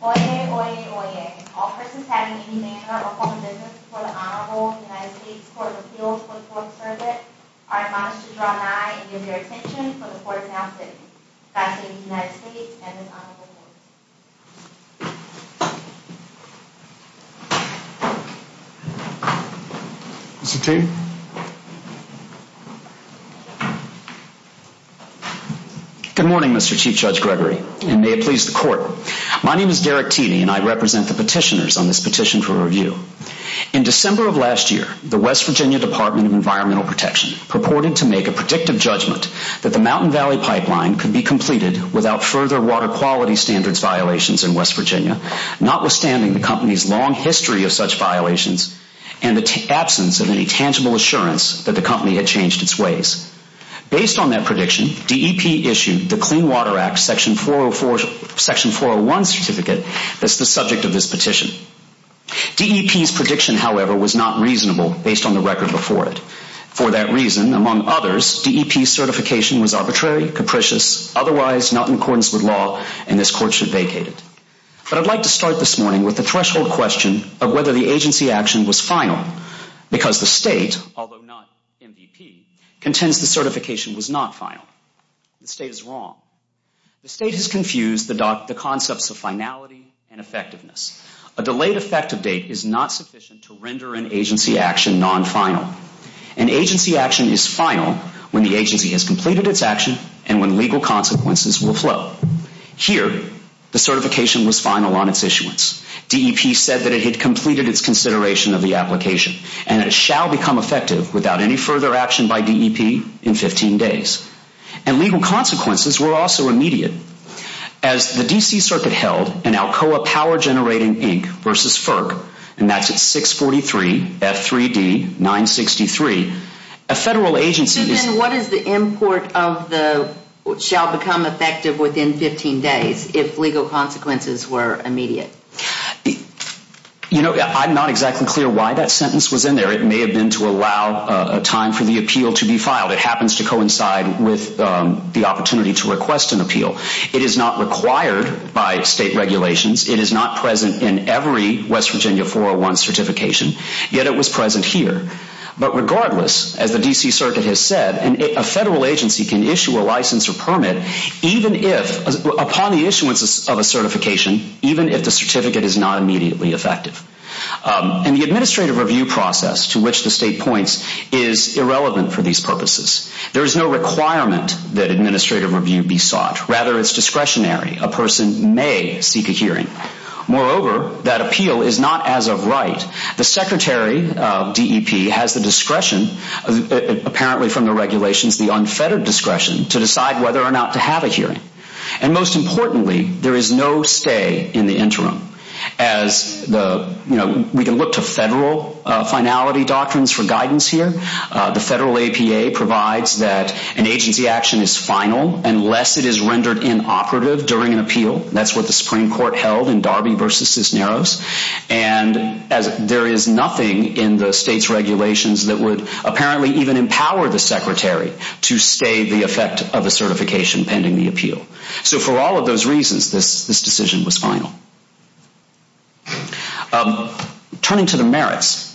Oyez, oyez, oyez. All persons having any manner of public business before the Honorable United States Court of Appeals for the Court of Service are admonished to draw nigh and give their attention for the Court is now sitting. God save the United States and this Honorable Court. Mr. Teedy. Good morning, Mr. Chief Judge Gregory, and may it please the Court. My name is Derek Teedy and I represent the petitioners on this petition for review. In December of last year, the West Virginia Department of Environmental Protection purported to make a predictive judgment that the Mountain Valley pipeline could be completed without further water quality standards violations in West Virginia, notwithstanding the company's long history of such violations and the absence of any tangible evidence of water quality violations. Based on that prediction, DEP issued the Clean Water Act Section 401 certificate that's the subject of this petition. DEP's prediction, however, was not reasonable based on the record before it. For that reason, among others, DEP's certification was arbitrary, capricious, otherwise not in accordance with law, and this Court should vacate it. But I'd like to start this morning with the threshold question of whether the agency action was final, because the State, although not MVP, contends the certification was not final. The State is wrong. The State has confused the concepts of finality and effectiveness. A delayed effective date is not sufficient to render an agency action non-final. An agency action is final when the agency has completed its action and when legal consequences will flow. Here, the certification was final on its issuance. DEP said that it had completed its consideration of the application, and it shall become effective without any further action by DEP in 15 days. And legal consequences were also immediate. As the D.C. Circuit held an Alcoa Power Generating Inc. v. FERC, and that's at 643 F3D 963, a Federal agency is I'm not exactly clear why that sentence was in there. It may have been to allow time for the appeal to be filed. It happens to coincide with the opportunity to request an appeal. It is not required by State regulations. It is not present in every West Virginia 401 certification, yet it was present here. But regardless, as the D.C. Circuit has said, an agency action is not final. And a Federal agency can issue a license or permit upon the issuance of a certification, even if the certificate is not immediately effective. And the administrative review process to which the State points is irrelevant for these purposes. There is no requirement that administrative review be sought. Rather, it's discretionary. A person may seek a hearing. Moreover, that appeal is not as of right. The Secretary of DEP has the discretion, apparently from the regulations, the unfettered discretion, to decide whether or not to have a hearing. And most importantly, there is no stay in the interim. As the, you know, we can look to Federal finality doctrines for guidance here. The Federal APA provides that an agency action is final unless it is rendered inoperative during an appeal. That's what the Supreme Court held in Darby v. Narrows. And there is nothing in the State's regulations that would apparently even empower the Secretary to stay the effect of a certification pending the appeal. So for all of those reasons, this decision was final. Turning to the merits.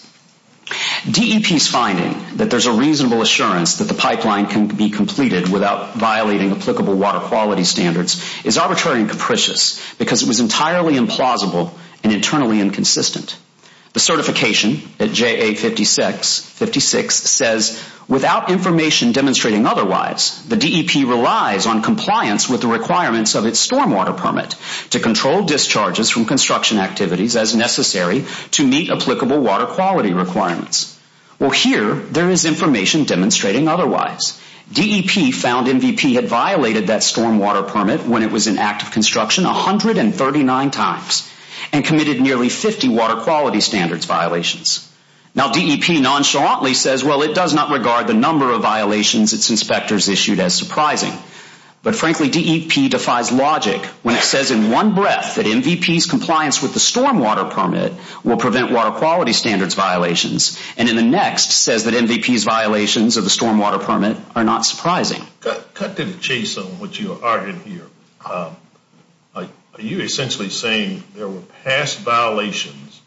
DEP's finding that there's a reasonable assurance that the pipeline can be completed without violating applicable water quality standards is arbitrary and capricious because it was entirely implausible and internally inconsistent. The certification at JA56 says, without information demonstrating otherwise, the DEP relies on compliance with the requirements of its stormwater permit to control discharges from construction activities as necessary to meet applicable water quality requirements. Well, here there is information demonstrating otherwise. DEP found MVP had violated that stormwater permit when it was in active construction 139 times and committed nearly 50 water quality standards violations. Now, DEP nonchalantly says, well, it does not regard the number of violations its inspectors issued as surprising. But frankly, DEP defies logic when it says in one breath that MVP's compliance with the stormwater permit will prevent water quality standards violations and in the next says that MVP's violations of the stormwater permit are not surprising. Cut to the chase on what you are arguing here. Are you essentially saying there were past violations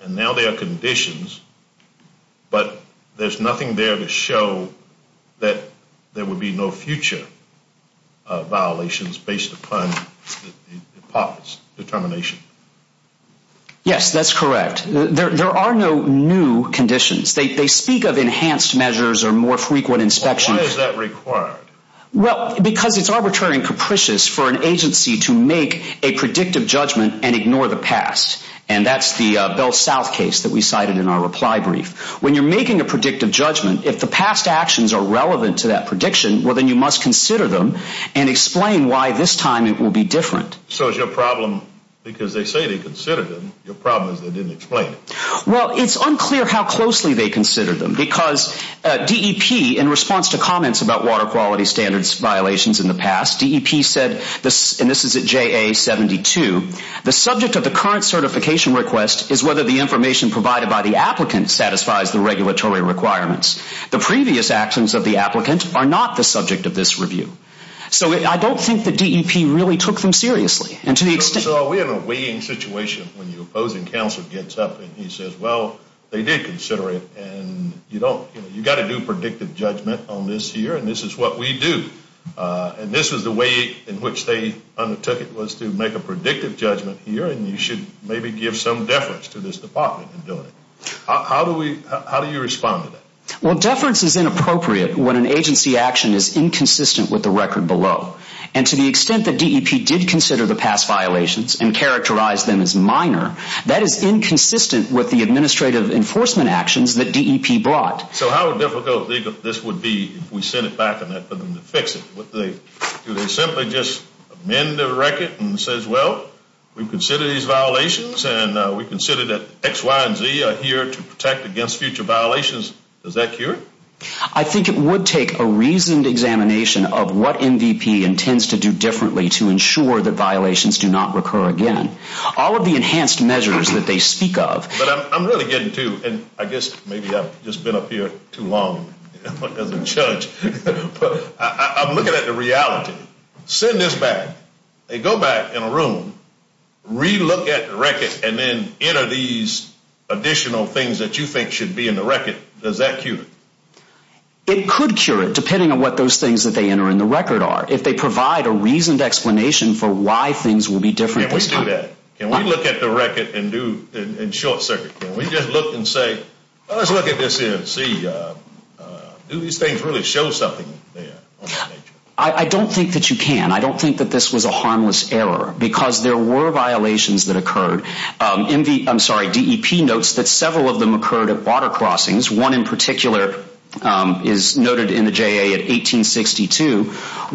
and now there are conditions, but there's nothing there to show that there would be no future violations based upon DEP's determination? Yes, that's correct. There are no new conditions. They speak of enhanced measures or more frequent inspections. Why is that required? Well, because it's arbitrary and capricious for an agency to make a predictive judgment and ignore the past. And that's the Bell South case that we cited in our reply brief. When you're making a predictive judgment, if the past actions are relevant to that prediction, well, then you must consider them and explain why this time it will be different. So is your problem, because they say they considered them, your problem is they didn't explain it? Well, it's unclear how closely they considered them because DEP, in response to comments about water quality standards violations in the past, DEP said, and this is at JA72, the subject of the current certification request is whether the information provided by the applicant satisfies the regulatory requirements. The previous actions of the applicant are not the subject of this review. So I don't think that DEP really took them seriously. So we're in a weighing situation when your opposing counsel gets up and he says, well, they did consider it and you've got to do predictive judgment on this here and this is what we do. And this is the way in which they undertook it was to make a predictive judgment here and you should maybe give some deference to this department in doing it. How do you respond to that? Well, deference is inappropriate when an agency action is inconsistent with the record below. And to the extent that DEP did consider the past violations and characterized them as minor, that is inconsistent with the administrative enforcement actions that DEP brought. So how difficult this would be if we sent it back for them to fix it? Do they simply just amend the record and say, well, we consider these violations and we consider that X, Y, and Z are here to protect against future violations? Does that cure it? I think it would take a reasoned examination of what MVP intends to do differently to ensure that violations do not recur again. But I'm really getting to, and I guess maybe I've just been up here too long as a judge, but I'm looking at the reality. Send this back. They go back in a room, relook at the record, and then enter these additional things that you think should be in the record. Does that cure it? It could cure it depending on what those things that they enter in the record are. If they provide a reasoned explanation for why things will be different this time. Can we look at the record in short circuit? Can we just look and say, let's look at this and see, do these things really show something there? I don't think that you can. I don't think that this was a harmless error because there were violations that occurred. DEP notes that several of them occurred at water crossings. One in particular is noted in the JA at 1862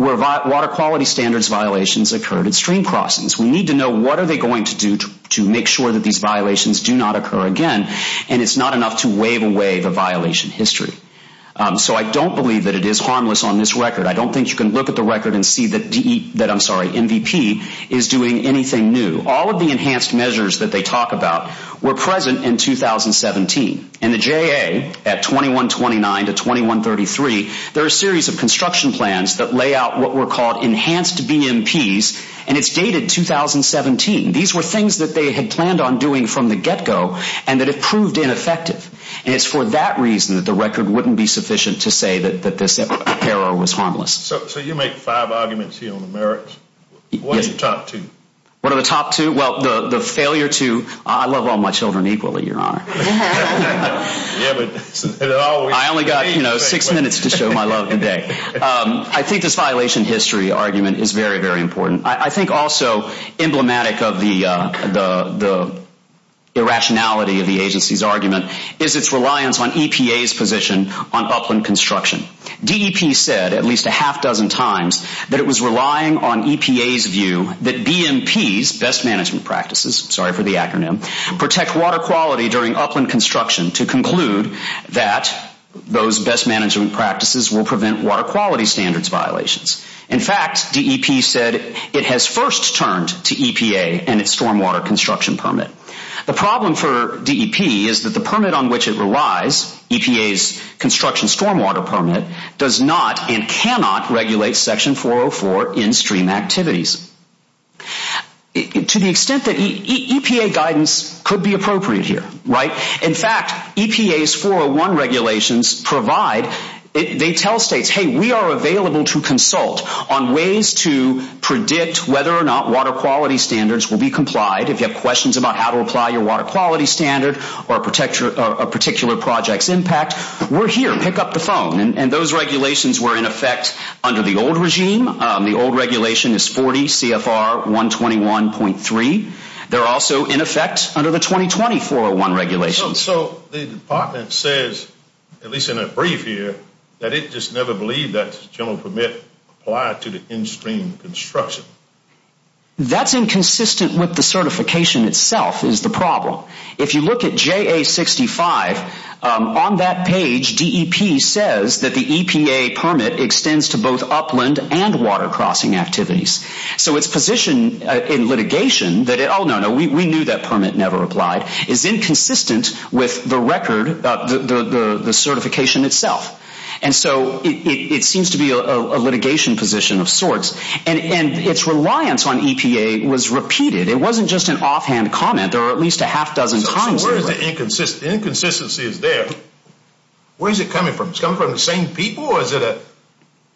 where water quality standards violations occurred at stream crossings. We need to know what are they going to do to make sure that these violations do not occur again. And it's not enough to wave away the violation history. So I don't believe that it is harmless on this record. I don't think you can look at the record and see that MVP is doing anything new. All of the enhanced measures that they talk about were present in 2017. In the JA at 2129 to 2133, there are a series of construction plans that lay out what were called enhanced BMPs. And it's dated 2017. These were things that they had planned on doing from the get go and that it proved ineffective. And it's for that reason that the record wouldn't be sufficient to say that this error was harmless. So you make five arguments here on the merits. What are the top two? What are the top two? Well, the failure to, I love all my children equally, Your Honor. I only got six minutes to show my love today. I think this violation history argument is very, very important. I think also emblematic of the irrationality of the agency's argument is its reliance on EPA's position on upland construction. DEP said at least a half dozen times that it was relying on EPA's view that BMPs, best management practices, sorry for the acronym, protect water quality during upland construction to conclude that those best management practices will prevent water quality standards violations. In fact, DEP said it has first turned to EPA and its stormwater construction permit. The problem for DEP is that the permit on which it relies, EPA's construction stormwater permit, does not and cannot regulate Section 404 in-stream activities. To the extent that EPA guidance could be appropriate here, right? In fact, EPA's 401 regulations provide, they tell states, hey, we are available to consult on ways to predict whether or not water quality standards will be complied. If you have questions about how to apply your water quality standard or a particular project's impact, we're here. Pick up the phone. And those regulations were in effect under the old regime. The old regulation is 40 CFR 121.3. They're also in effect under the 2020 401 regulations. So the department says, at least in a brief here, that it just never believed that general permit applied to the in-stream construction. That's inconsistent with the certification itself is the problem. If you look at JA 65, on that page, DEP says that the EPA permit extends to both upland and water crossing activities. So its position in litigation that, oh, no, no, we knew that permit never applied, is inconsistent with the record, the certification itself. And so it seems to be a litigation position of sorts. And its reliance on EPA was repeated. It wasn't just an offhand comment or at least a half dozen times. So where is the inconsistency? The inconsistency is there. Where is it coming from? Is it coming from the same people? Or is it an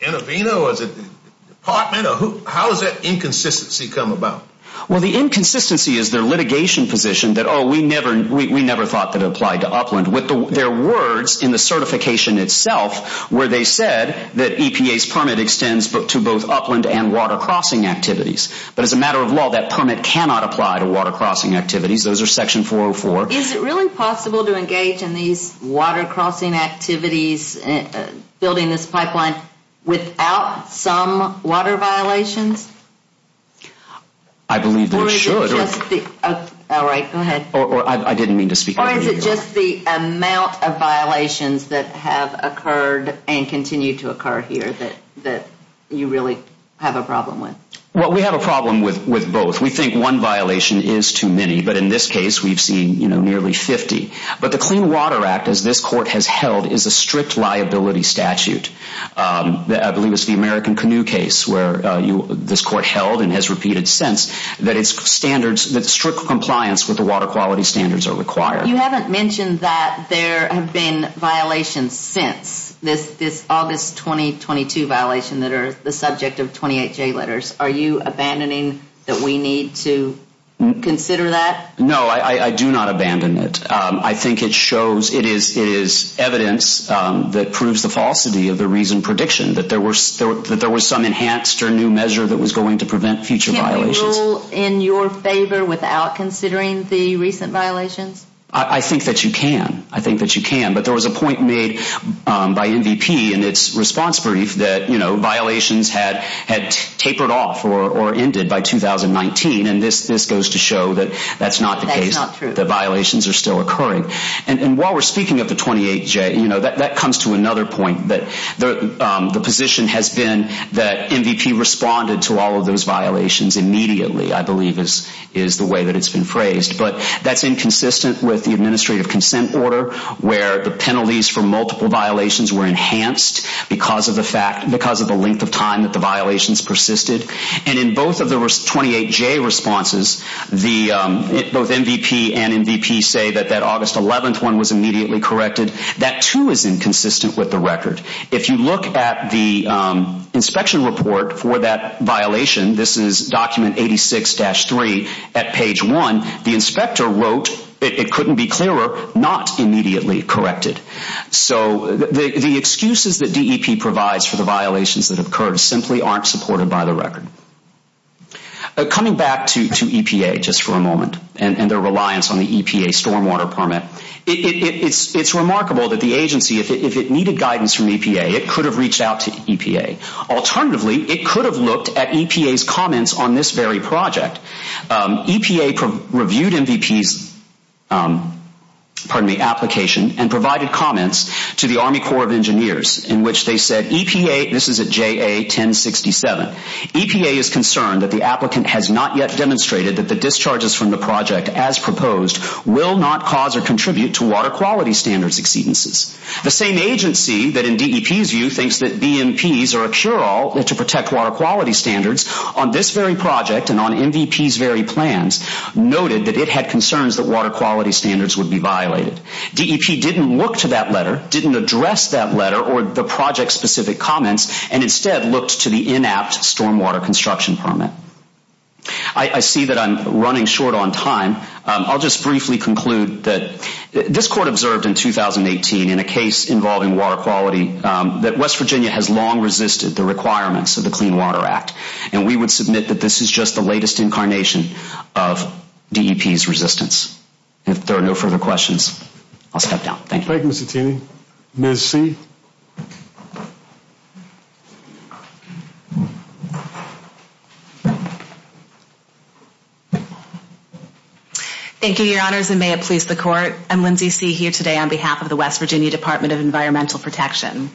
intervener? Or is it the department? How does that inconsistency come about? Well, the inconsistency is their litigation position that, oh, we never thought that it applied to upland. With their words in the certification itself where they said that EPA's permit extends to both upland and water crossing activities. But as a matter of law, that permit cannot apply to water crossing activities. Those are Section 404. Is it really possible to engage in these water crossing activities, building this pipeline, without some water violations? I believe that it should. Or is it just the, all right, go ahead. I didn't mean to speak on your behalf. Or is it just the amount of violations that have occurred and continue to occur here that you really have a problem with? Well, we have a problem with both. We think one violation is too many. But in this case, we've seen nearly 50. But the Clean Water Act, as this court has held, is a strict liability statute. I believe it's the American Canoe case where this court held and has repeated since that it's standards, that strict compliance with the water quality standards are required. You haven't mentioned that there have been violations since this August 2022 violation that are the subject of 28J letters. Are you abandoning that we need to consider that? No, I do not abandon it. I think it shows, it is evidence that proves the falsity of the reasoned prediction, that there was some enhanced or new measure that was going to prevent future violations. Can you rule in your favor without considering the recent violations? I think that you can. I think that you can. But there was a point made by MVP in its response brief that violations had tapered off or ended by 2019. And this goes to show that that's not the case. That's not true. The violations are still occurring. And while we're speaking of the 28J, that comes to another point. The position has been that MVP responded to all of those violations immediately, I believe is the way that it's been phrased. But that's inconsistent with the administrative consent order where the penalties for multiple violations were enhanced because of the length of time that the violations persisted. And in both of the 28J responses, both MVP and MVP say that that August 11th one was immediately corrected. That too is inconsistent with the record. If you look at the inspection report for that violation, this is document 86-3 at page 1, the inspector wrote, it couldn't be clearer, not immediately corrected. So the excuses that DEP provides for the violations that occurred simply aren't supported by the record. Coming back to EPA just for a moment and their reliance on the EPA stormwater permit, it's remarkable that the agency, if it needed guidance from EPA, it could have reached out to EPA. Alternatively, it could have looked at EPA's comments on this very project. EPA reviewed MVP's application and provided comments to the Army Corps of Engineers in which they said, EPA, this is at JA 1067, EPA is concerned that the applicant has not yet demonstrated that the discharges from the project as proposed will not cause or contribute to water quality standards exceedances. The same agency that in DEP's view thinks that BMPs are a cure-all to protect water quality standards, on this very project and on MVP's very plans noted that it had concerns that water quality standards would be violated. DEP didn't look to that letter, didn't address that letter or the project-specific comments, and instead looked to the inapt stormwater construction permit. I see that I'm running short on time. I'll just briefly conclude that this court observed in 2018 in a case involving water quality that West Virginia has long resisted the requirements of the Clean Water Act. And we would submit that this is just the latest incarnation of DEP's resistance. If there are no further questions, I'll step down. Thank you. Thank you, Mr. Tini. Ms. C. Thank you, Your Honors, and may it please the Court. I'm Lindsay C. here today on behalf of the West Virginia Department of Environmental Protection.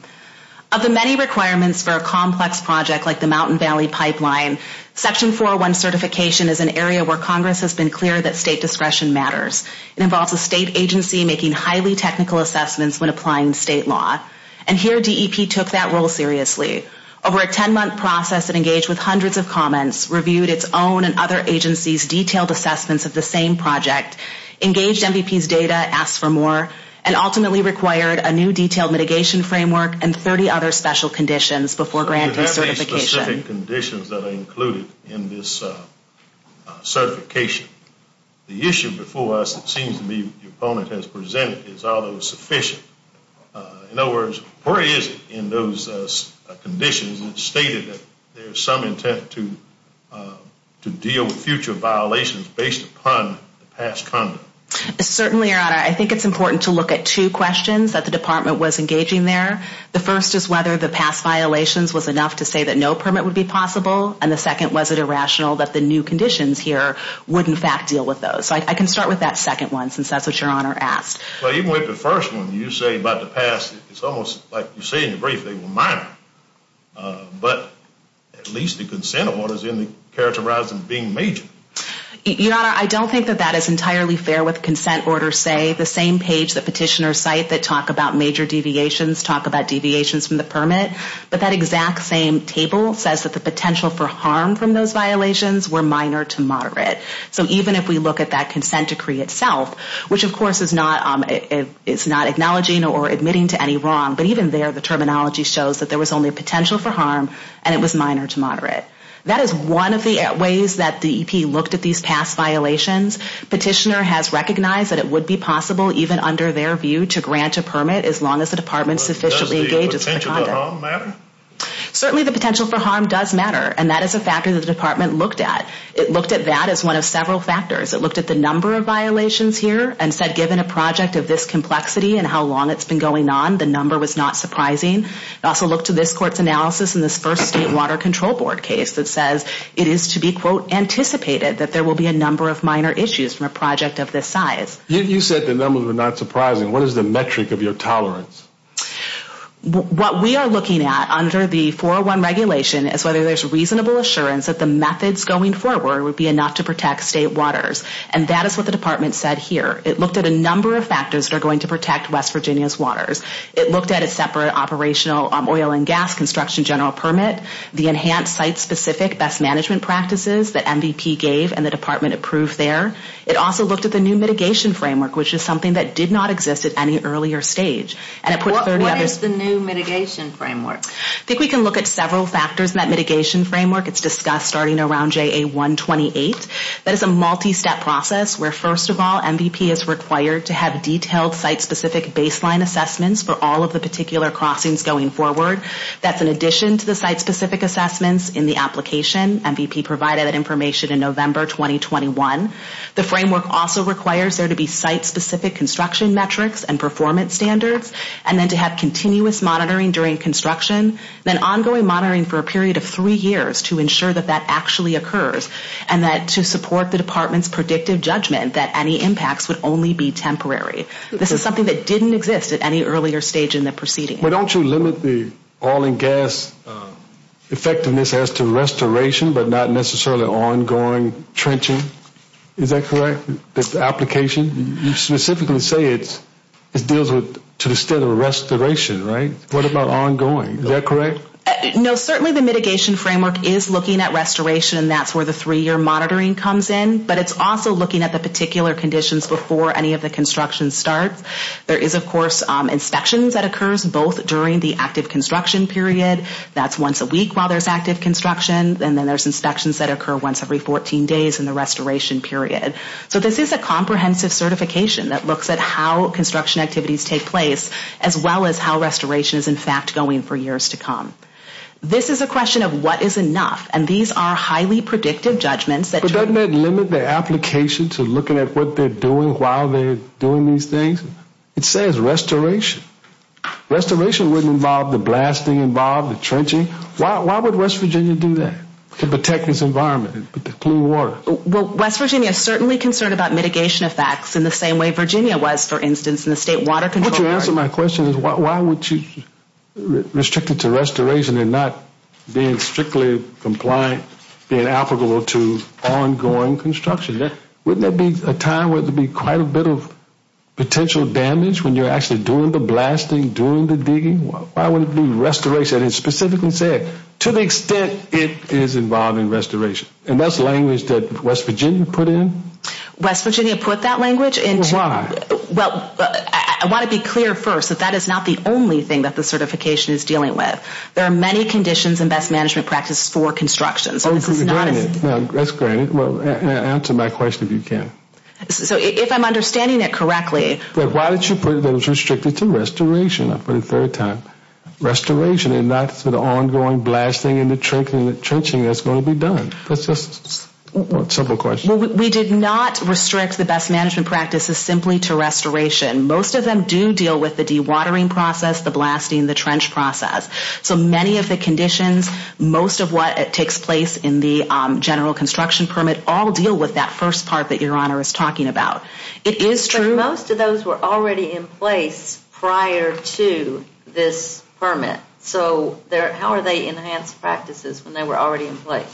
Of the many requirements for a complex project like the Mountain Valley Pipeline, Section 401 certification is an area where Congress has been clear that state discretion matters. It involves a state agency making highly technical assessments when applying state law. And here DEP took that role seriously. Over a ten-month process, it engaged with hundreds of comments, reviewed its own and other agencies' detailed assessments of the same project, engaged MVP's data, asked for more, and ultimately required a new detailed mitigation framework and 30 other special conditions before granting certification. You have these specific conditions that are included in this certification. The issue before us, it seems to me, the opponent has presented is are those sufficient? In other words, where is it in those conditions that stated that there is some intent to deal with future violations based upon past conduct? Certainly, Your Honor, I think it's important to look at two questions that the Department was engaging there. The first is whether the past violations was enough to say that no permit would be possible. And the second, was it irrational that the new conditions here would, in fact, deal with those? I can start with that second one since that's what Your Honor asked. Well, even with the first one, you say about the past, it's almost like you say in your brief, they were minor. But at least the consent of one is in the characterizing being major. Your Honor, I don't think that that is entirely fair with consent order, say, the same page that petitioners cite that talk about major deviations, talk about deviations from the permit. But that exact same table says that the potential for harm from those violations were minor to moderate. So even if we look at that consent decree itself, which, of course, is not acknowledging or admitting to any wrong, but even there the terminology shows that there was only potential for harm and it was minor to moderate. That is one of the ways that the EP looked at these past violations. Petitioner has recognized that it would be possible, even under their view, to grant a permit as long as the Department sufficiently engages with the conduct. Does the potential for harm matter? Certainly the potential for harm does matter, and that is a factor that the Department looked at. It looked at that as one of several factors. It looked at the number of violations here and said given a project of this complexity and how long it's been going on, the number was not surprising. It also looked at this Court's analysis in this first State Water Control Board case that says it is to be, quote, anticipated that there will be a number of minor issues from a project of this size. You said the numbers were not surprising. What is the metric of your tolerance? What we are looking at under the 401 regulation is whether there's reasonable assurance that the methods going forward would be enough to protect State waters, and that is what the Department said here. It looked at a number of factors that are going to protect West Virginia's waters. It looked at a separate operational oil and gas construction general permit, the enhanced site-specific best management practices that MVP gave and the Department approved there. It also looked at the new mitigation framework, which is something that did not exist at any earlier stage. What is the new mitigation framework? I think we can look at several factors in that mitigation framework. It's discussed starting around JA-128. That is a multi-step process where, first of all, MVP is required to have detailed site-specific baseline assessments for all of the particular crossings going forward. That's in addition to the site-specific assessments in the application. MVP provided that information in November 2021. The framework also requires there to be site-specific construction metrics and performance standards, and then to have continuous monitoring during construction, then ongoing monitoring for a period of three years to ensure that that actually occurs and that to support the Department's predictive judgment that any impacts would only be temporary. This is something that didn't exist at any earlier stage in the proceeding. But don't you limit the oil and gas effectiveness as to restoration but not necessarily ongoing trenching? Is that correct, the application? You specifically say it deals to the state of restoration, right? What about ongoing? Is that correct? No, certainly the mitigation framework is looking at restoration, and that's where the three-year monitoring comes in, but it's also looking at the particular conditions before any of the construction starts. There is, of course, inspections that occurs both during the active construction period, that's once a week while there's active construction, and then there's inspections that occur once every 14 days in the restoration period. So this is a comprehensive certification that looks at how construction activities take place as well as how restoration is, in fact, going for years to come. This is a question of what is enough, and these are highly predictive judgments that But doesn't that limit the application to looking at what they're doing while they're doing these things? It says restoration. Restoration wouldn't involve the blasting involved, the trenching. Why would West Virginia do that to protect this environment, the clean water? Well, West Virginia is certainly concerned about mitigation effects in the same way Virginia was, for instance, in the state water control. What you answer to my question is why would you restrict it to restoration and not being strictly compliant, being applicable to ongoing construction? Wouldn't there be a time where there would be quite a bit of potential damage when you're actually doing the blasting, doing the digging? Why wouldn't it be restoration? It specifically said to the extent it is involved in restoration, and that's language that West Virginia put in? West Virginia put that language into Well, why? Well, I want to be clear first that that is not the only thing that the certification is dealing with. There are many conditions and best management practices for construction. Oh, granted. That's granted. Well, answer my question if you can. So if I'm understanding it correctly Why did you put it was restricted to restoration? I'll put it a third time. Restoration and not the ongoing blasting and the trenching that's going to be done. That's just a simple question. We did not restrict the best management practices simply to restoration. Most of them do deal with the dewatering process, the blasting, the trench process. So many of the conditions, most of what takes place in the general construction permit all deal with that first part that Your Honor is talking about. It is true But most of those were already in place prior to this permit. So how are they enhanced practices when they were already in place?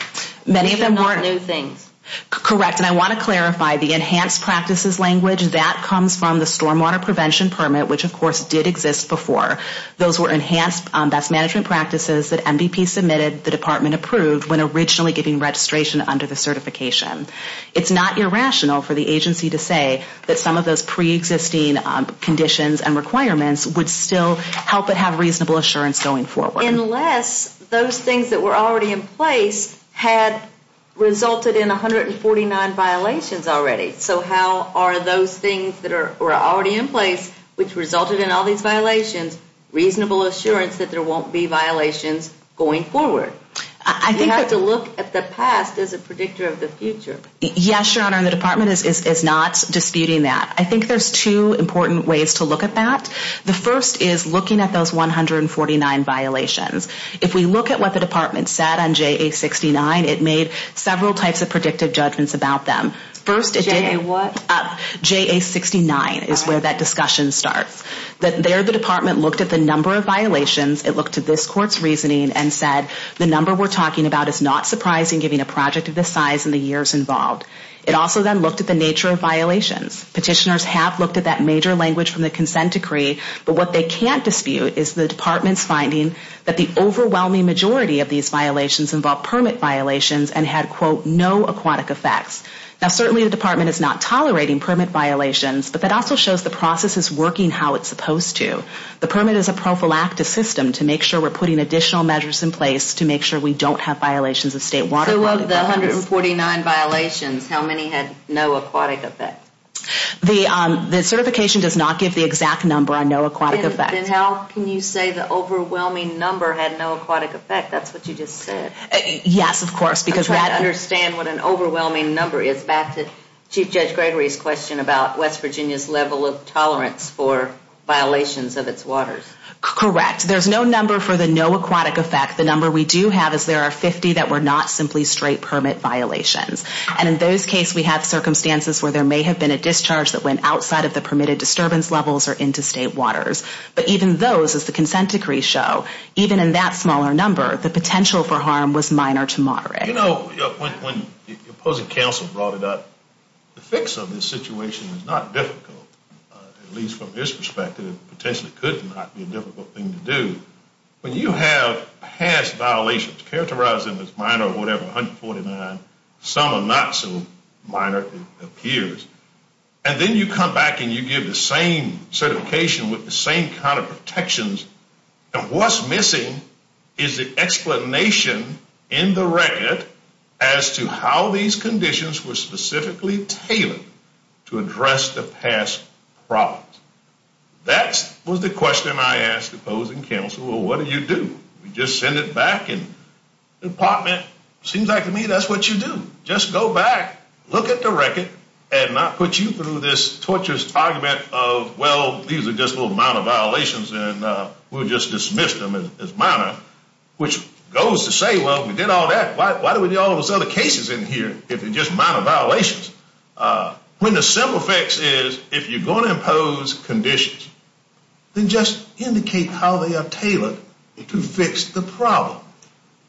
Many of them were These are not new things. Correct. And I want to clarify the enhanced practices language, that comes from the stormwater prevention permit, which, of course, did exist before. Those were enhanced best management practices that MVP submitted, the department approved, when originally giving registration under the certification. It's not irrational for the agency to say that some of those preexisting conditions and requirements would still help it have reasonable assurance going forward. Unless those things that were already in place had resulted in 149 violations already. So how are those things that were already in place, which resulted in all these violations, reasonable assurance that there won't be violations going forward? You have to look at the past as a predictor of the future. Yes, Your Honor, and the department is not disputing that. I think there's two important ways to look at that. The first is looking at those 149 violations. If we look at what the department said on JA69, it made several types of predictive judgments about them. JA what? JA69 is where that discussion starts. There the department looked at the number of violations, it looked at this court's reasoning and said the number we're talking about is not surprising given a project of this size and the years involved. It also then looked at the nature of violations. Petitioners have looked at that major language from the consent decree, but what they can't dispute is the department's finding that the overwhelming majority of these violations involved permit violations and had, quote, no aquatic effects. Now certainly the department is not tolerating permit violations, but that also shows the process is working how it's supposed to. The permit is a prophylactic system to make sure we're putting additional measures in place to make sure we don't have violations of state water quality. So of the 149 violations, how many had no aquatic effect? The certification does not give the exact number on no aquatic effect. Then how can you say the overwhelming number had no aquatic effect? That's what you just said. Yes, of course. I'm trying to understand what an overwhelming number is. Back to Chief Judge Gregory's question about West Virginia's level of tolerance for violations of its waters. Correct. There's no number for the no aquatic effect. The number we do have is there are 50 that were not simply straight permit violations. And in those cases we have circumstances where there may have been a discharge that went outside of the permitted disturbance levels or into state waters. But even those, as the consent decrees show, even in that smaller number, the potential for harm was minor to moderate. You know, when the opposing counsel brought it up, the fix of this situation is not difficult. At least from his perspective, it potentially could not be a difficult thing to do. When you have past violations characterized as minor or whatever, 149, some are not so minor it appears, and then you come back and you give the same certification with the same kind of protections, and what's missing is the explanation in the record as to how these conditions were specifically tailored to address the past problems. That was the question I asked the opposing counsel. Well, what do you do? You just send it back and the department, it seems like to me that's what you do. Just go back, look at the record, and I'll put you through this torturous argument of, well, these are just little minor violations and we'll just dismiss them as minor, which goes to say, well, we did all that. Why do we do all those other cases in here if they're just minor violations? When the simple fix is if you're going to impose conditions, then just indicate how they are tailored to fix the problem.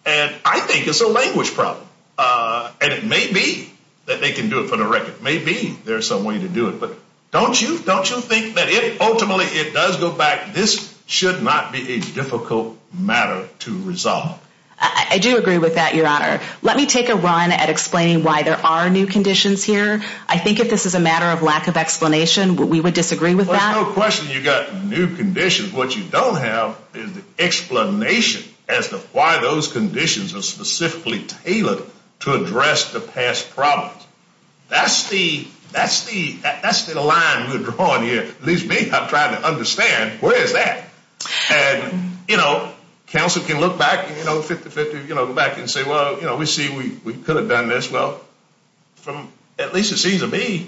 And I think it's a language problem, and it may be that they can do it for the record. Maybe there's some way to do it, but don't you think that if ultimately it does go back, this should not be a difficult matter to resolve? I do agree with that, Your Honor. Let me take a run at explaining why there are new conditions here. I think if this is a matter of lack of explanation, we would disagree with that. There's no question you've got new conditions. What you don't have is the explanation as to why those conditions are specifically tailored to address the past problems. That's the line we're drawing here. At least me, I'm trying to understand where is that? And, you know, counsel can look back, you know, 50-50, go back and say, well, we see we could have done this. Well, at least it seems to me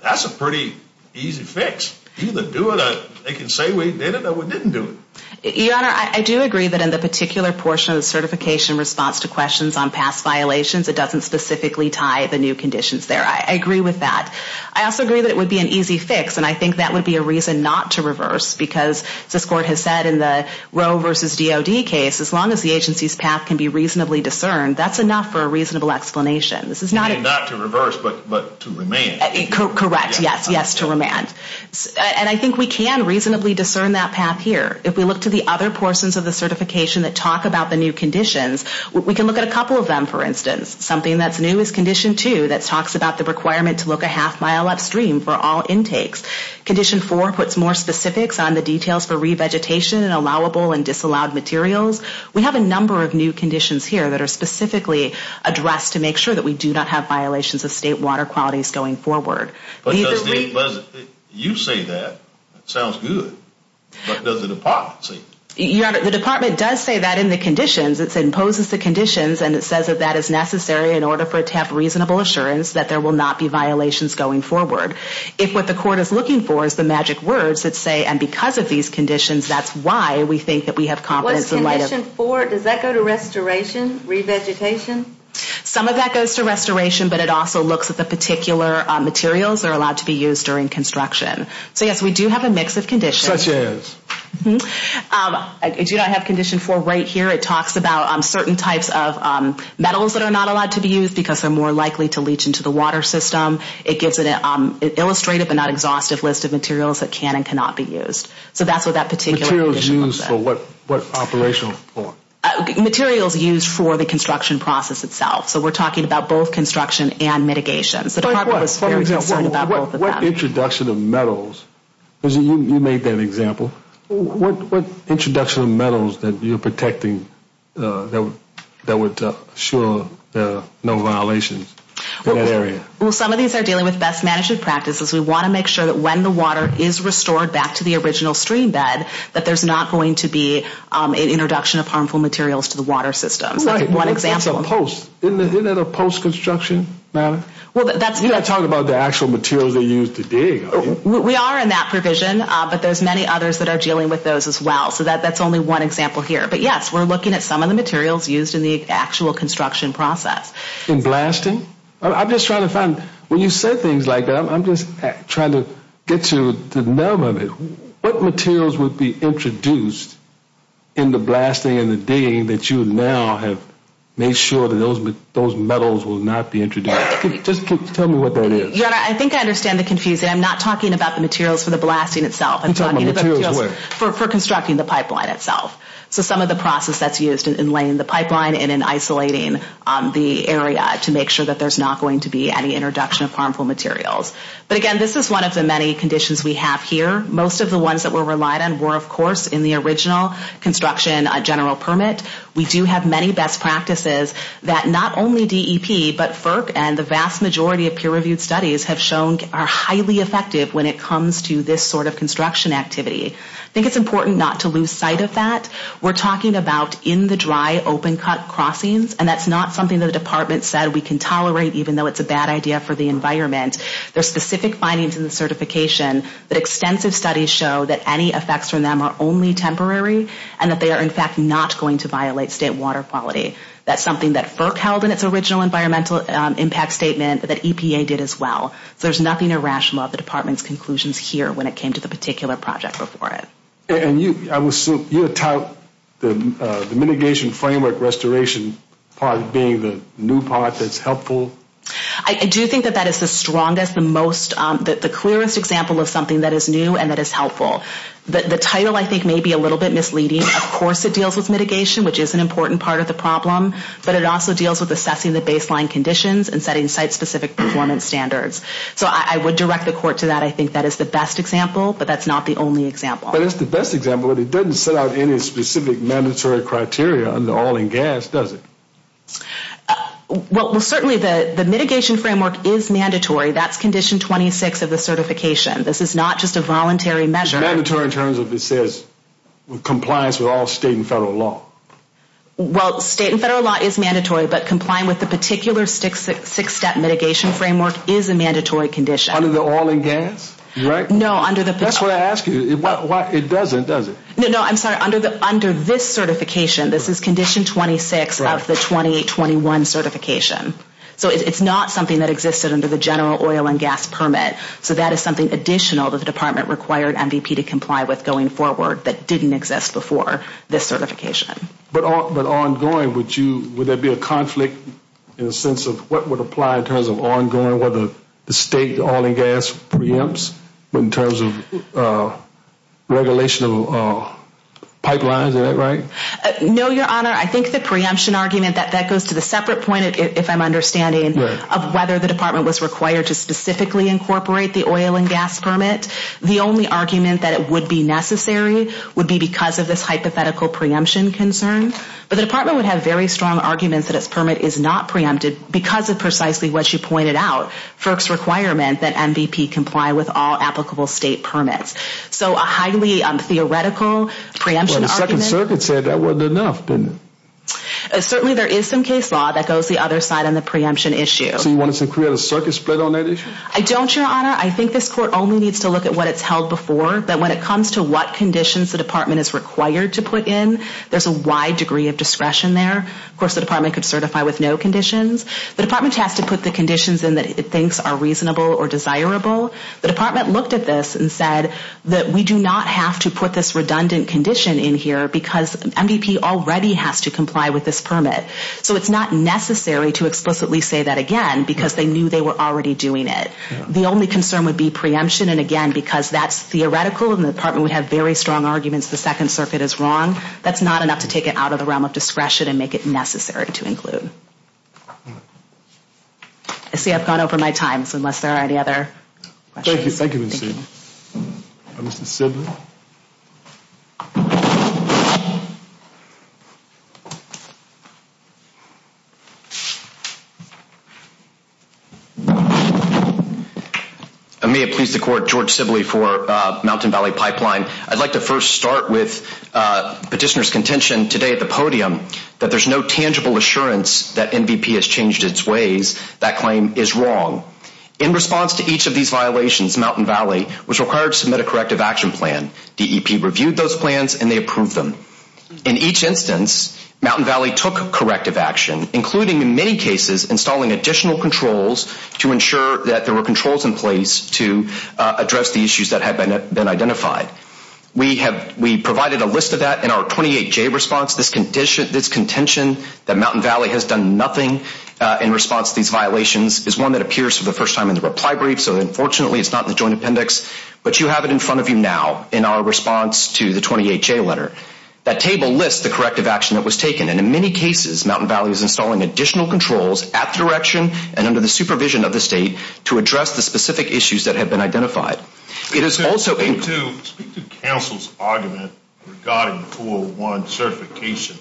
that's a pretty easy fix. Either do it or they can say we did it or we didn't do it. Your Honor, I do agree that in the particular portion of the certification response to questions on past violations, it doesn't specifically tie the new conditions there. I agree with that. I also agree that it would be an easy fix, and I think that would be a reason not to reverse because as this Court has said in the Roe v. DoD case, as long as the agency's path can be reasonably discerned, that's enough for a reasonable explanation. Not to reverse, but to remand. Correct, yes, yes, to remand. And I think we can reasonably discern that path here. If we look to the other portions of the certification that talk about the new conditions, we can look at a couple of them, for instance. Something that's new is Condition 2 that talks about the requirement to look a half mile upstream for all intakes. Condition 4 puts more specifics on the details for revegetation and allowable and disallowed materials. We have a number of new conditions here that are specifically addressed to make sure that we do not have violations of state water qualities going forward. You say that. That sounds good. What does the Department say? Your Honor, the Department does say that in the conditions. It imposes the conditions, and it says that that is necessary in order for it to have reasonable assurance that there will not be violations going forward. If what the court is looking for is the magic words that say, and because of these conditions, that's why we think that we have confidence in the light of... What is Condition 4? Does that go to restoration, revegetation? Some of that goes to restoration, but it also looks at the particular materials that are allowed to be used during construction. So, yes, we do have a mix of conditions. Such as? As you know, I have Condition 4 right here. It talks about certain types of metals that are not allowed to be used because they're more likely to leach into the water system. It gives it an illustrative but not exhaustive list of materials that can and cannot be used. So that's what that particular condition was for. Materials used for what operational? Materials used for the construction process itself. So we're talking about both construction and mitigation. The Department was very concerned about both of them. What introduction of metals? You made that example. What introduction of metals that you're protecting that would assure no violations in that area? Well, some of these are dealing with best management practices. We want to make sure that when the water is restored back to the original stream bed that there's not going to be an introduction of harmful materials to the water system. That's one example. Isn't that a post-construction matter? You're not talking about the actual materials they use to dig. We are in that provision but there's many others that are dealing with those as well. So that's only one example here. But yes, we're looking at some of the materials used in the actual construction process. In blasting? When you say things like that I'm just trying to get to the nub of it. What materials would be introduced in the blasting and the digging that you now have made sure that those metals will not be introduced? Just tell me what that is. I think I understand the confusion. I'm not talking about the materials for the blasting itself. For constructing the pipeline itself. So some of the process that's used in laying the pipeline and in isolating the area to make sure that there's not going to be any introduction of harmful materials. But again, this is one of the many conditions we have here. Most of the ones that we're relying on were of course in the original construction general permit. We do have many best practices that not only DEP but FERC and the vast majority of peer-reviewed studies have shown are highly effective when it comes to this sort of construction activity. I think it's important not to lose sight of that. We're talking about in-the-dry, open-cut crossings and that's not something the department said we can tolerate even though it's a bad idea for the environment. There's specific findings in the certification that extensive studies show that any effects from them are only temporary and that they are in fact not going to violate state water quality. That's something that FERC held in its original environmental impact statement that EPA did as well. So there's nothing irrational about the department's conclusions here when it came to the particular project before it. And you, I would assume, you would tout the mitigation framework restoration part being the new part that's helpful? I do think that that is the strongest, the most, the clearest example of something that is new and that is helpful. The title I think may be a little bit misleading. Of course it deals with mitigation, which is an important part of the problem, but it also deals with assessing the baseline conditions and setting site-specific performance standards. So I would direct the court to that. I think that is the best example, but that's not the only example. But it's the best example, but it doesn't set out any specific mandatory criteria under oil and gas, does it? Well, certainly the mitigation framework is mandatory. That's condition 26 of the certification. This is not just a voluntary measure. Mandatory in terms of it says compliance with all state and federal law. Well, state and federal law is mandatory, but complying with the particular six-step mitigation framework is a mandatory condition. Under the oil and gas? That's what I asked you. It doesn't, does it? No, no, I'm sorry. Under this certification, this is condition 26 of the 20-21 certification. So it's not something that existed under the general oil and gas permit. So that is something additional that the Department required MVP to comply with going forward that didn't exist before this certification. But ongoing, would you would there be a conflict in the sense of what would apply in terms of ongoing whether the state oil and gas preempts in terms of regulation of pipelines? Is that right? No, Your Honor. I think the preemption argument, that goes to the separate point, if I'm understanding, of whether the Department was required to specifically incorporate the oil and gas permit, the only argument that it would be necessary would be because of this hypothetical preemption concern. But the Department would have very strong arguments that its permit is not preempted because of precisely what you pointed out, FERC's requirement that MVP comply with all applicable state permits. So a highly theoretical preemption argument... Well, the Second Circuit said that wasn't enough, didn't it? Certainly there is some case law that goes the other side on the preemption issue. So you want us to create a circuit split on that issue? I don't, Your Honor. I think this Court only needs to look at what it's held before. But when it comes to what conditions the Department is required to put in, there's a wide degree of discretion there. Of course, the Department could certify with no conditions. The Department has to put the conditions in that it thinks are reasonable or desirable. The Department looked at this and said that we do not have to put this redundant condition in here because MVP already has to comply with this permit. So it's not necessary to explicitly say that again because they knew they were already doing it. The only concern would be preemption. And again, because that's theoretical and the Department would have very strong arguments the Second Circuit is wrong, that's not enough to take it out of the realm of discretion and make it necessary to include. I see I've gone over my time, so unless there are any other questions... Thank you. Mr. Sibley? May it please the Court, George Sibley for Mountain Valley Pipeline. I'd like to first start with petitioner's contention today at the podium that there's no tangible assurance that MVP has changed its ways. That claim is wrong. In response to each of these violations, Mountain Valley was required to submit a corrective action plan. DEP reviewed those plans and they approved them. In each instance, Mountain Valley took corrective action, including in many cases installing additional controls to ensure that there were controls in place to address the issues that had been identified. We provided a list of that in our 28-J response. This contention that Mountain Valley has done nothing in response to these violations is one that appears for the first time in the reply brief, so unfortunately it's not in the joint appendix, but you have it in front of you now in our response to the 28-J letter. That table lists the corrective action that was taken, and in many cases, Mountain Valley is installing additional controls at the direction and under the supervision of the State to address the specific issues that have been identified. It is also... ...speak to Council's argument regarding 401 certification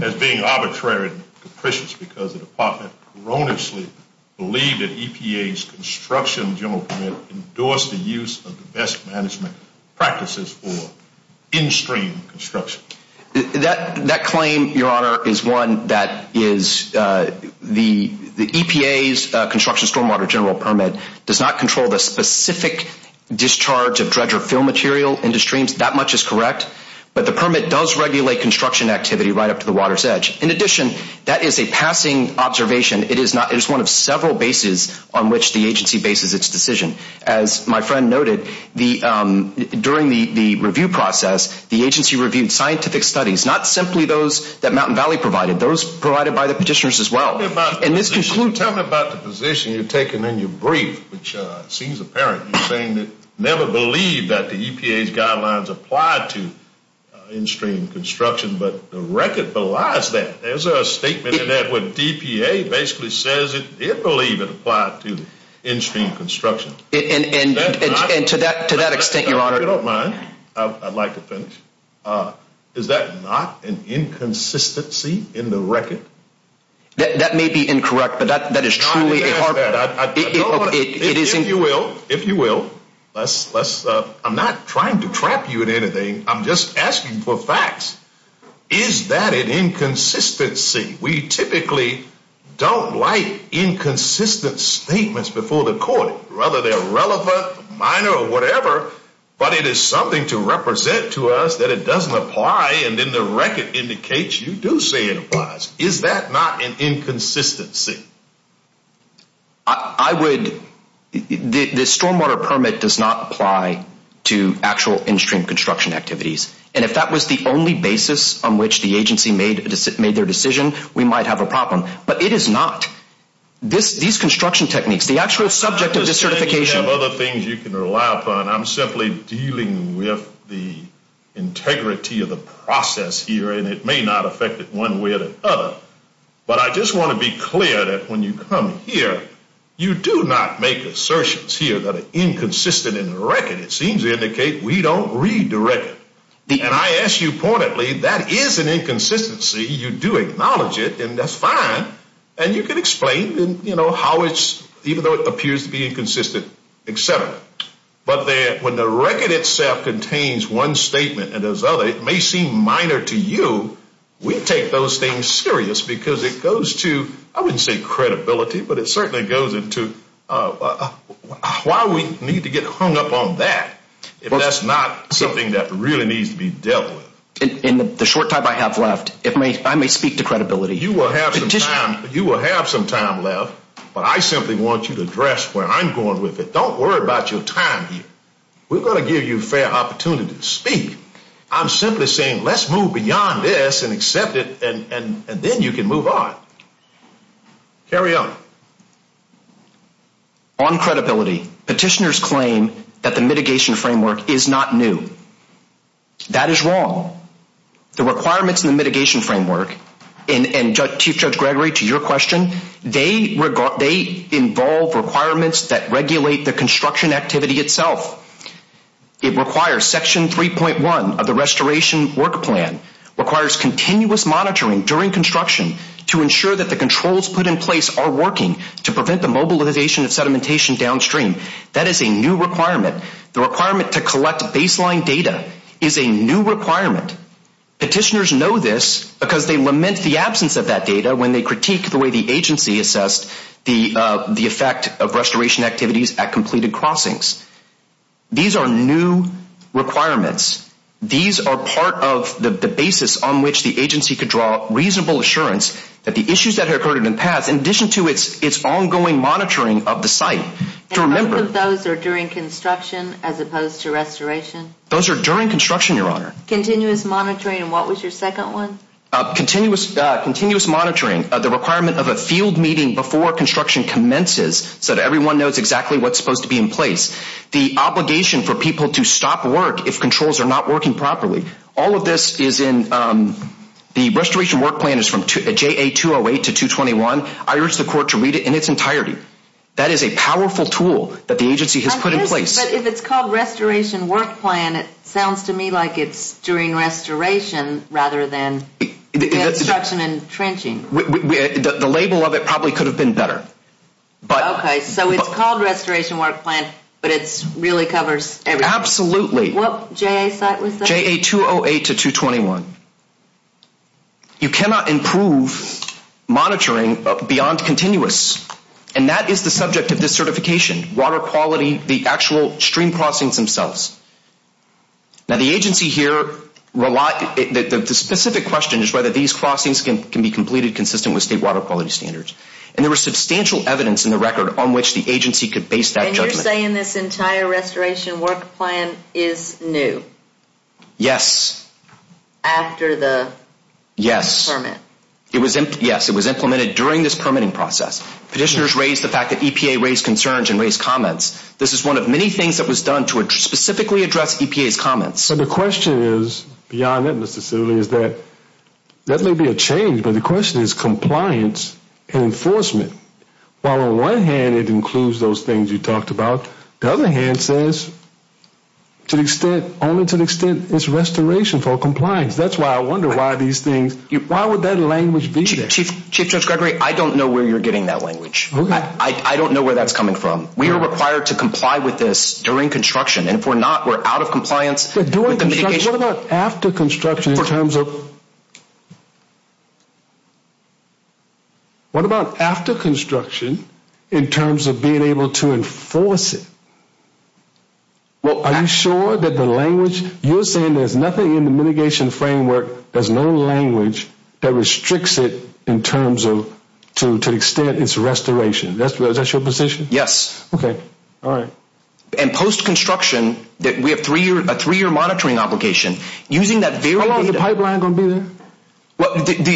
as being arbitrary and capricious because the Department erroneously believed that EPA's construction general permit endorsed the use of the best management practices for in-stream construction. That claim, Your Honor, is one that is the EPA's construction stormwater general permit does not control the specific discharge of dredge or fill material into streams. That much is correct, but the permit does regulate construction activity right up to the water's edge. In addition, that is a passing observation. It is one of several bases on which the agency bases its decision. As my friend noted, during the review process, the agency reviewed scientific studies, not simply those that Mountain Valley provided, those provided by the petitioners as well. Tell me about the position you're taking in your brief, which seems apparent. You're saying that you never believed that the EPA's guidelines applied to in-stream construction, but the record belies that. There's a statement in there where DPA basically says it believed it applied to in-stream construction. And to that I'd like to finish, is that not an inconsistency in the record? That may be incorrect, but that is truly... If you will, I'm not trying to trap you in anything. I'm just asking for facts. Is that an inconsistency? We typically don't like inconsistent statements before the court, whether they're relevant, minor, or whatever, but it is something to represent to us that it doesn't apply, and then the record indicates you do say it applies. Is that not an inconsistency? I would... The stormwater permit does not apply to actual in-stream construction activities. And if that was the only basis on which the agency made their decision, we might have a problem. But it is not. These construction techniques, the actual subject of this certification... I'm simply dealing with the integrity of the process here, and it may not affect it one way or the other. But I just want to be clear that when you come here, you do not make assertions here that are inconsistent in the record. It seems to indicate we don't read the record. And I ask you pointedly, that is an inconsistency. You do acknowledge it, and that's fine. And you can explain how it's... even though it appears to be inconsistent, etc. But when the record itself contains one statement and there's others, it may seem minor to you. We take those things serious because it goes to, I wouldn't say credibility, but it certainly goes into why we need to get hung up on that if that's not something that really needs to be dealt with. In the short time I have left, I may speak to credibility. You will have some time left, but I simply want you to address where I'm going with it. Don't worry about your time here. We're going to give you a fair opportunity to speak. I'm simply saying let's move beyond this and accept it, and then you can move on. Carry on. On credibility, petitioners claim that the mitigation framework is not new. That is wrong. The requirements in the mitigation framework, and Chief Judge Gregory, to your question, they involve requirements that regulate the construction activity itself. It requires Section 3.1 of the Restoration Work Plan, requires continuous monitoring during construction to ensure that the controls put in place are working to prevent the mobilization of sedimentation downstream. That is a new requirement. The requirement to collect baseline data is a new requirement. Petitioners know this because they lament the absence of that data when they discussed the effect of restoration activities at completed crossings. These are new requirements. These are part of the basis on which the agency could draw reasonable assurance that the issues that have occurred in the past, in addition to its ongoing monitoring of the site, to remember... And both of those are during construction as opposed to restoration? Those are during construction, Your Honor. Continuous monitoring, and what was your second one? Continuous monitoring of the requirement of a field meeting before construction commences so that everyone knows exactly what's supposed to be in place. The obligation for people to stop work if controls are not working properly. All of this is in... The Restoration Work Plan is from JA 208 to 221. I urge the Court to read it in its entirety. That is a powerful tool that the agency has put in place. If it's called Restoration Work Plan, it sounds to me like it's during restoration rather than construction and trenching. The label of it probably could have been better. Okay, so it's called Restoration Work Plan, but it really covers everything. Absolutely. What JA site was that? JA 208 to 221. You cannot improve monitoring beyond continuous, and that is the subject of this certification, water quality, the actual stream crossings themselves. Now the agency here relies... The specific question is whether these crossings can be completed consistent with state water quality standards. And there was substantial evidence in the record on which the agency could base that judgment. And you're saying this entire Restoration Work Plan is new? Yes. After the permit? Yes. It was implemented during this permitting process. Petitioners raised the fact that EPA raised concerns and raised comments. This is one of many things that was done to specifically address EPA's comments. So the question is, beyond that Mr. Sidley, is that that may be a change, but the question is compliance and enforcement. While on one hand it includes those things you talked about, the other hand says to the extent, only to the extent it's restoration for compliance. That's why I wonder why these things, why would that language be there? Chief Judge Gregory, I don't know where you're getting that language. I don't know where that's coming from. We are required to comply with this during construction, and if we're not, we're out of compliance. What about after construction in terms of What about after construction in terms of being able to enforce it? Are you sure that the language, you're saying there's nothing in the mitigation framework, there's no language that restricts it in terms of, to the extent it's restoration. Is that your position? Yes. Okay, alright. And post-construction, we have a three-year monitoring obligation using that very data. How long is the pipeline going to be there?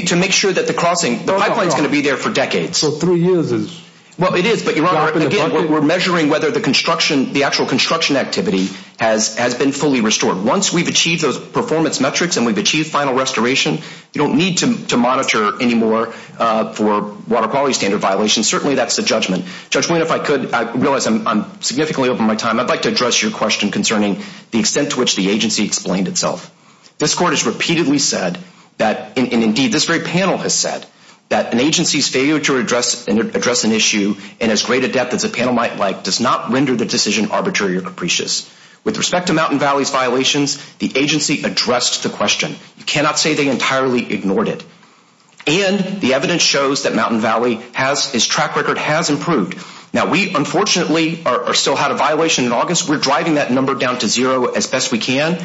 To make sure that the crossing, the pipeline is going to be there for decades. So three years is... Again, we're measuring whether the construction, the actual construction activity has been fully restored. Once we've achieved those performance metrics and we've achieved final restoration, you don't need to monitor anymore for water quality standard violations. Certainly that's the judgment. Judge Wynne, if I could, I realize I'm significantly over my time. I'd like to address your question concerning the extent to which the agency explained itself. This Court has repeatedly said that, and indeed this very panel has said, that an agency's failure to address an issue in as great a depth as a panel might like does not render the decision arbitrary or capricious. With respect to Mountain Valley's violations, the agency addressed the question. You cannot say they entirely ignored it. And the evidence shows that Mountain Valley's track record has improved. Now, we unfortunately still had a violation in August. We're driving that number down to zero as best we can.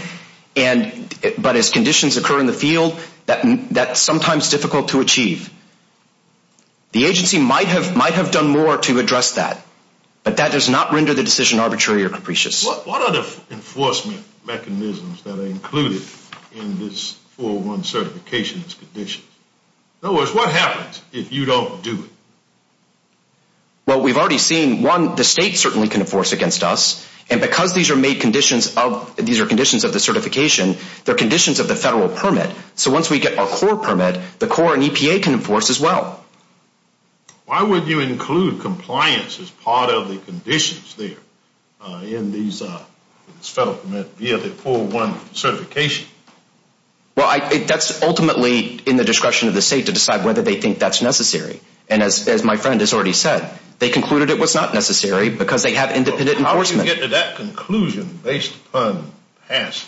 But as conditions occur in the field, that's sometimes difficult to achieve. The agency might have done more to address that. But that does not render the decision arbitrary or capricious. What are the enforcement mechanisms that are included in this 401 certification's conditions? In other words, what happens if you don't do it? Well, we've already seen, one, the state certainly can enforce against us. And because these are made conditions of the certification, they're conditions of the federal permit. So once we get our core permit, the core and EPA can enforce as well. Why would you include compliance as part of the conditions there in these federal permit via the 401 certification? Well, that's ultimately in the discretion of the state to decide whether they think that's necessary. And as my friend has already said, they concluded it was not necessary because they have independent enforcement. How did you get to that conclusion based upon past?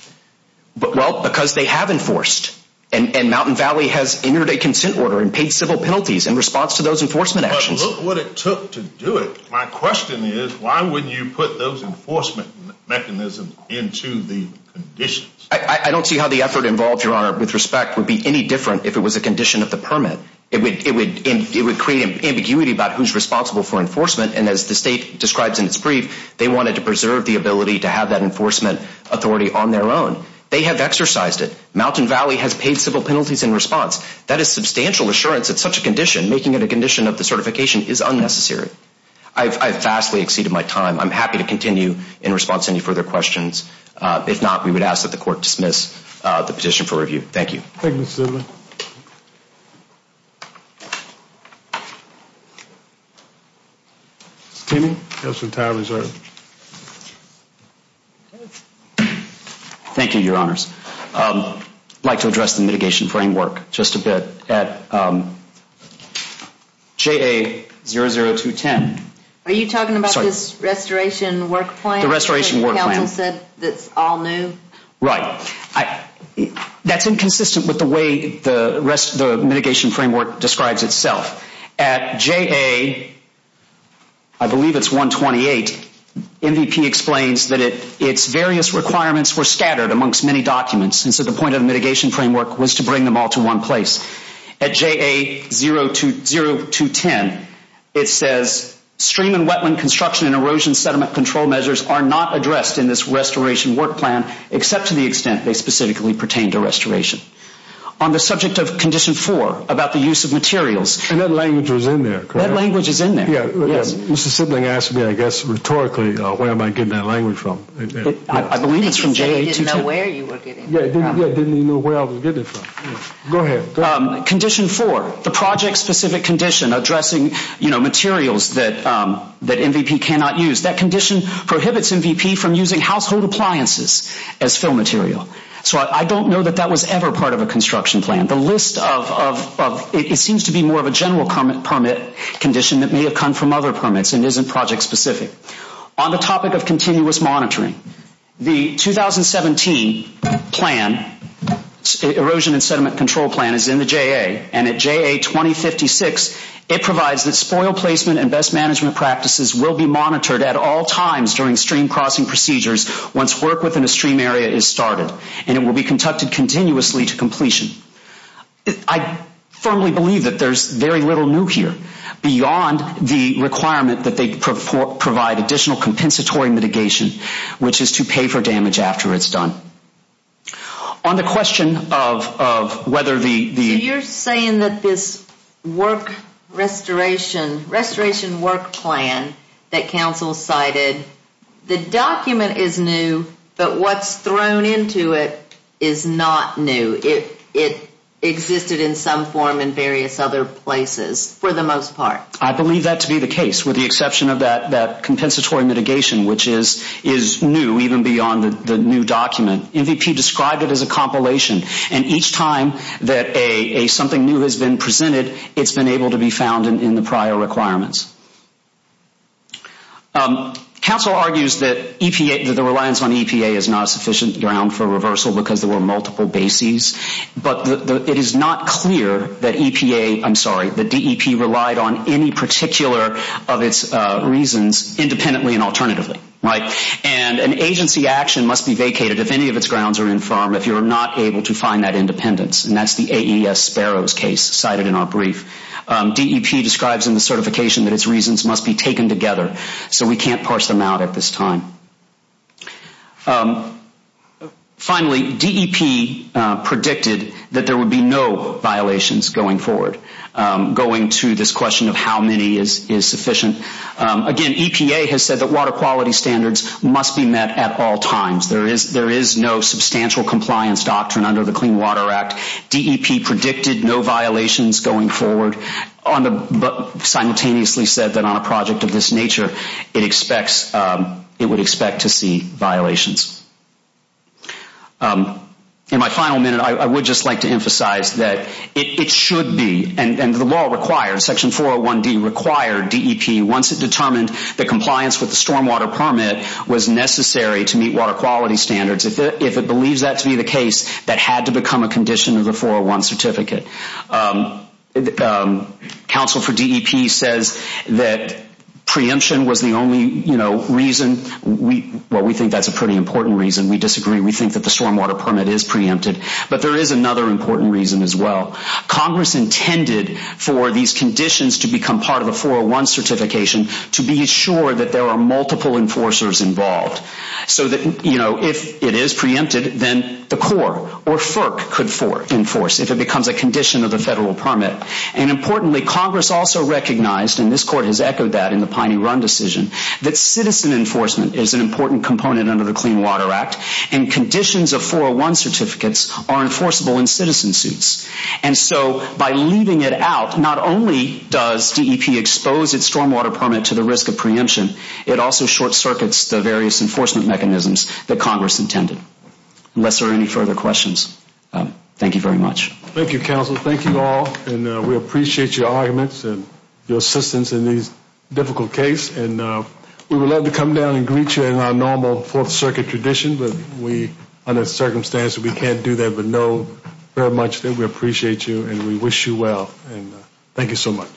Well, because they have enforced. And Mountain Valley has entered a consent order and paid civil penalties in response to those enforcement actions. But look what it took to do it. My question is why wouldn't you put those enforcement mechanisms into the conditions? I don't see how the effort involved, Your Honor, with respect would be any different if it was a condition of the permit. It would create ambiguity about who's responsible for enforcement. And as the state describes in its brief, they wanted to preserve the ability to have that enforcement authority on their own. They have exercised it. Mountain Valley has paid civil penalties in response. That is substantial assurance at such a condition. Making it a condition of the certification is unnecessary. I've vastly exceeded my time. I'm happy to continue in response to any further questions. If not, we would ask that the court dismiss the petition for review. Thank you. Thank you, Your Honors. I'd like to address the mitigation framework just a bit. At JA00210. Are you talking about this restoration work plan? The restoration work plan. The council said it's all new. Right. That's inconsistent with the way the mitigation framework describes itself. At JA, I believe it's 128, MVP explains that its various requirements were scattered amongst many documents. And so the point of the mitigation framework was to bring them all to one place. At JA00210, it says stream and wetland construction and erosion sediment control measures are not addressed in this restoration work plan, except to the extent they specifically pertain to restoration. On the subject of Condition 4, about the use of materials. And that language was in there, correct? That language is in there. Mr. Sibling asked me, I guess, rhetorically, where am I getting that language from? I believe it's from JA00210. I didn't even know where I was getting it from. Go ahead. Condition 4, the project specific condition addressing materials that MVP cannot use. That condition prohibits MVP from using household appliances as fill material. So I don't know that that was ever part of a construction plan. The list of, it seems to be more of a general permit condition that may have come from other permits and isn't project specific. On the topic of continuous monitoring, the 2017 plan, erosion and sediment control plan is in the JA, and it provides that spoil placement and best management practices will be monitored at all times during stream crossing procedures once work within a stream area is started. And it will be conducted continuously to completion. I firmly believe that there's very little new here beyond the requirement that they provide additional compensatory mitigation, which is to pay for damage after it's done. On the question of whether the You're saying that this work restoration, restoration work plan that council cited, the document is new, but what's thrown into it is not new. It existed in some form in various other places for the most part. I believe that to be the case with the exception of that compensatory mitigation, which is new even beyond the new document. MVP described it as a compilation and each time that something new has been presented, it's been able to be found in the prior requirements. Council argues that the reliance on EPA is not sufficient ground for reversal because there were multiple bases, but it is not clear that EPA, I'm sorry, that DEP relied on any particular of its reasons independently and alternatively. And an agency action must be vacated if any of its grounds are infirm, if you're not able to find that independence, and that's the AES Sparrows case cited in our brief. DEP describes in the certification that its reasons must be taken together, so we can't parse them out at this time. Finally, DEP predicted that there would be no violations going forward, going to this question of how many is sufficient. Again, EPA has said that water quality standards must be met at all times. There is no substantial compliance doctrine under the Clean Water Act. DEP predicted no violations going forward, but simultaneously said that on a project of this nature, it expects, it would expect to see violations. In my final minute, I would just like to emphasize that it should be, and the law requires, Section 401D required DEP, once it determined that compliance with the stormwater permit was necessary to meet water quality standards. If it believes that to be the case, that had to become a condition of the 401 Certificate. Counsel for DEP says that preemption was the only reason. Well, we think that's a pretty important reason. We disagree. We think that the stormwater permit is preempted, but there is another important reason as well. Congress intended for these conditions to become part of the 401 Certification to be sure that there are multiple enforcers involved so that, you know, if it is preempted, then the Corps or FERC could enforce if it becomes a condition of the federal permit. Importantly, Congress also recognized, and this Court has echoed that in the Piney Run decision, that citizen enforcement is an important component under the Clean Water Act, and conditions of 401 Certificates are enforceable in citizen suits. By leaving it out, not only does DEP expose its stormwater permit to the risk of preemption, it also short-circuits the various enforcement mechanisms that Congress intended. Unless there are any further questions, thank you very much. Thank you, Counsel. Thank you all, and we appreciate your arguments and your assistance in these difficult cases, and we would love to come down and greet you in our normal Fourth Circuit tradition, but we, under circumstances we can't do that, but know very much that we appreciate you, and we thank you so much.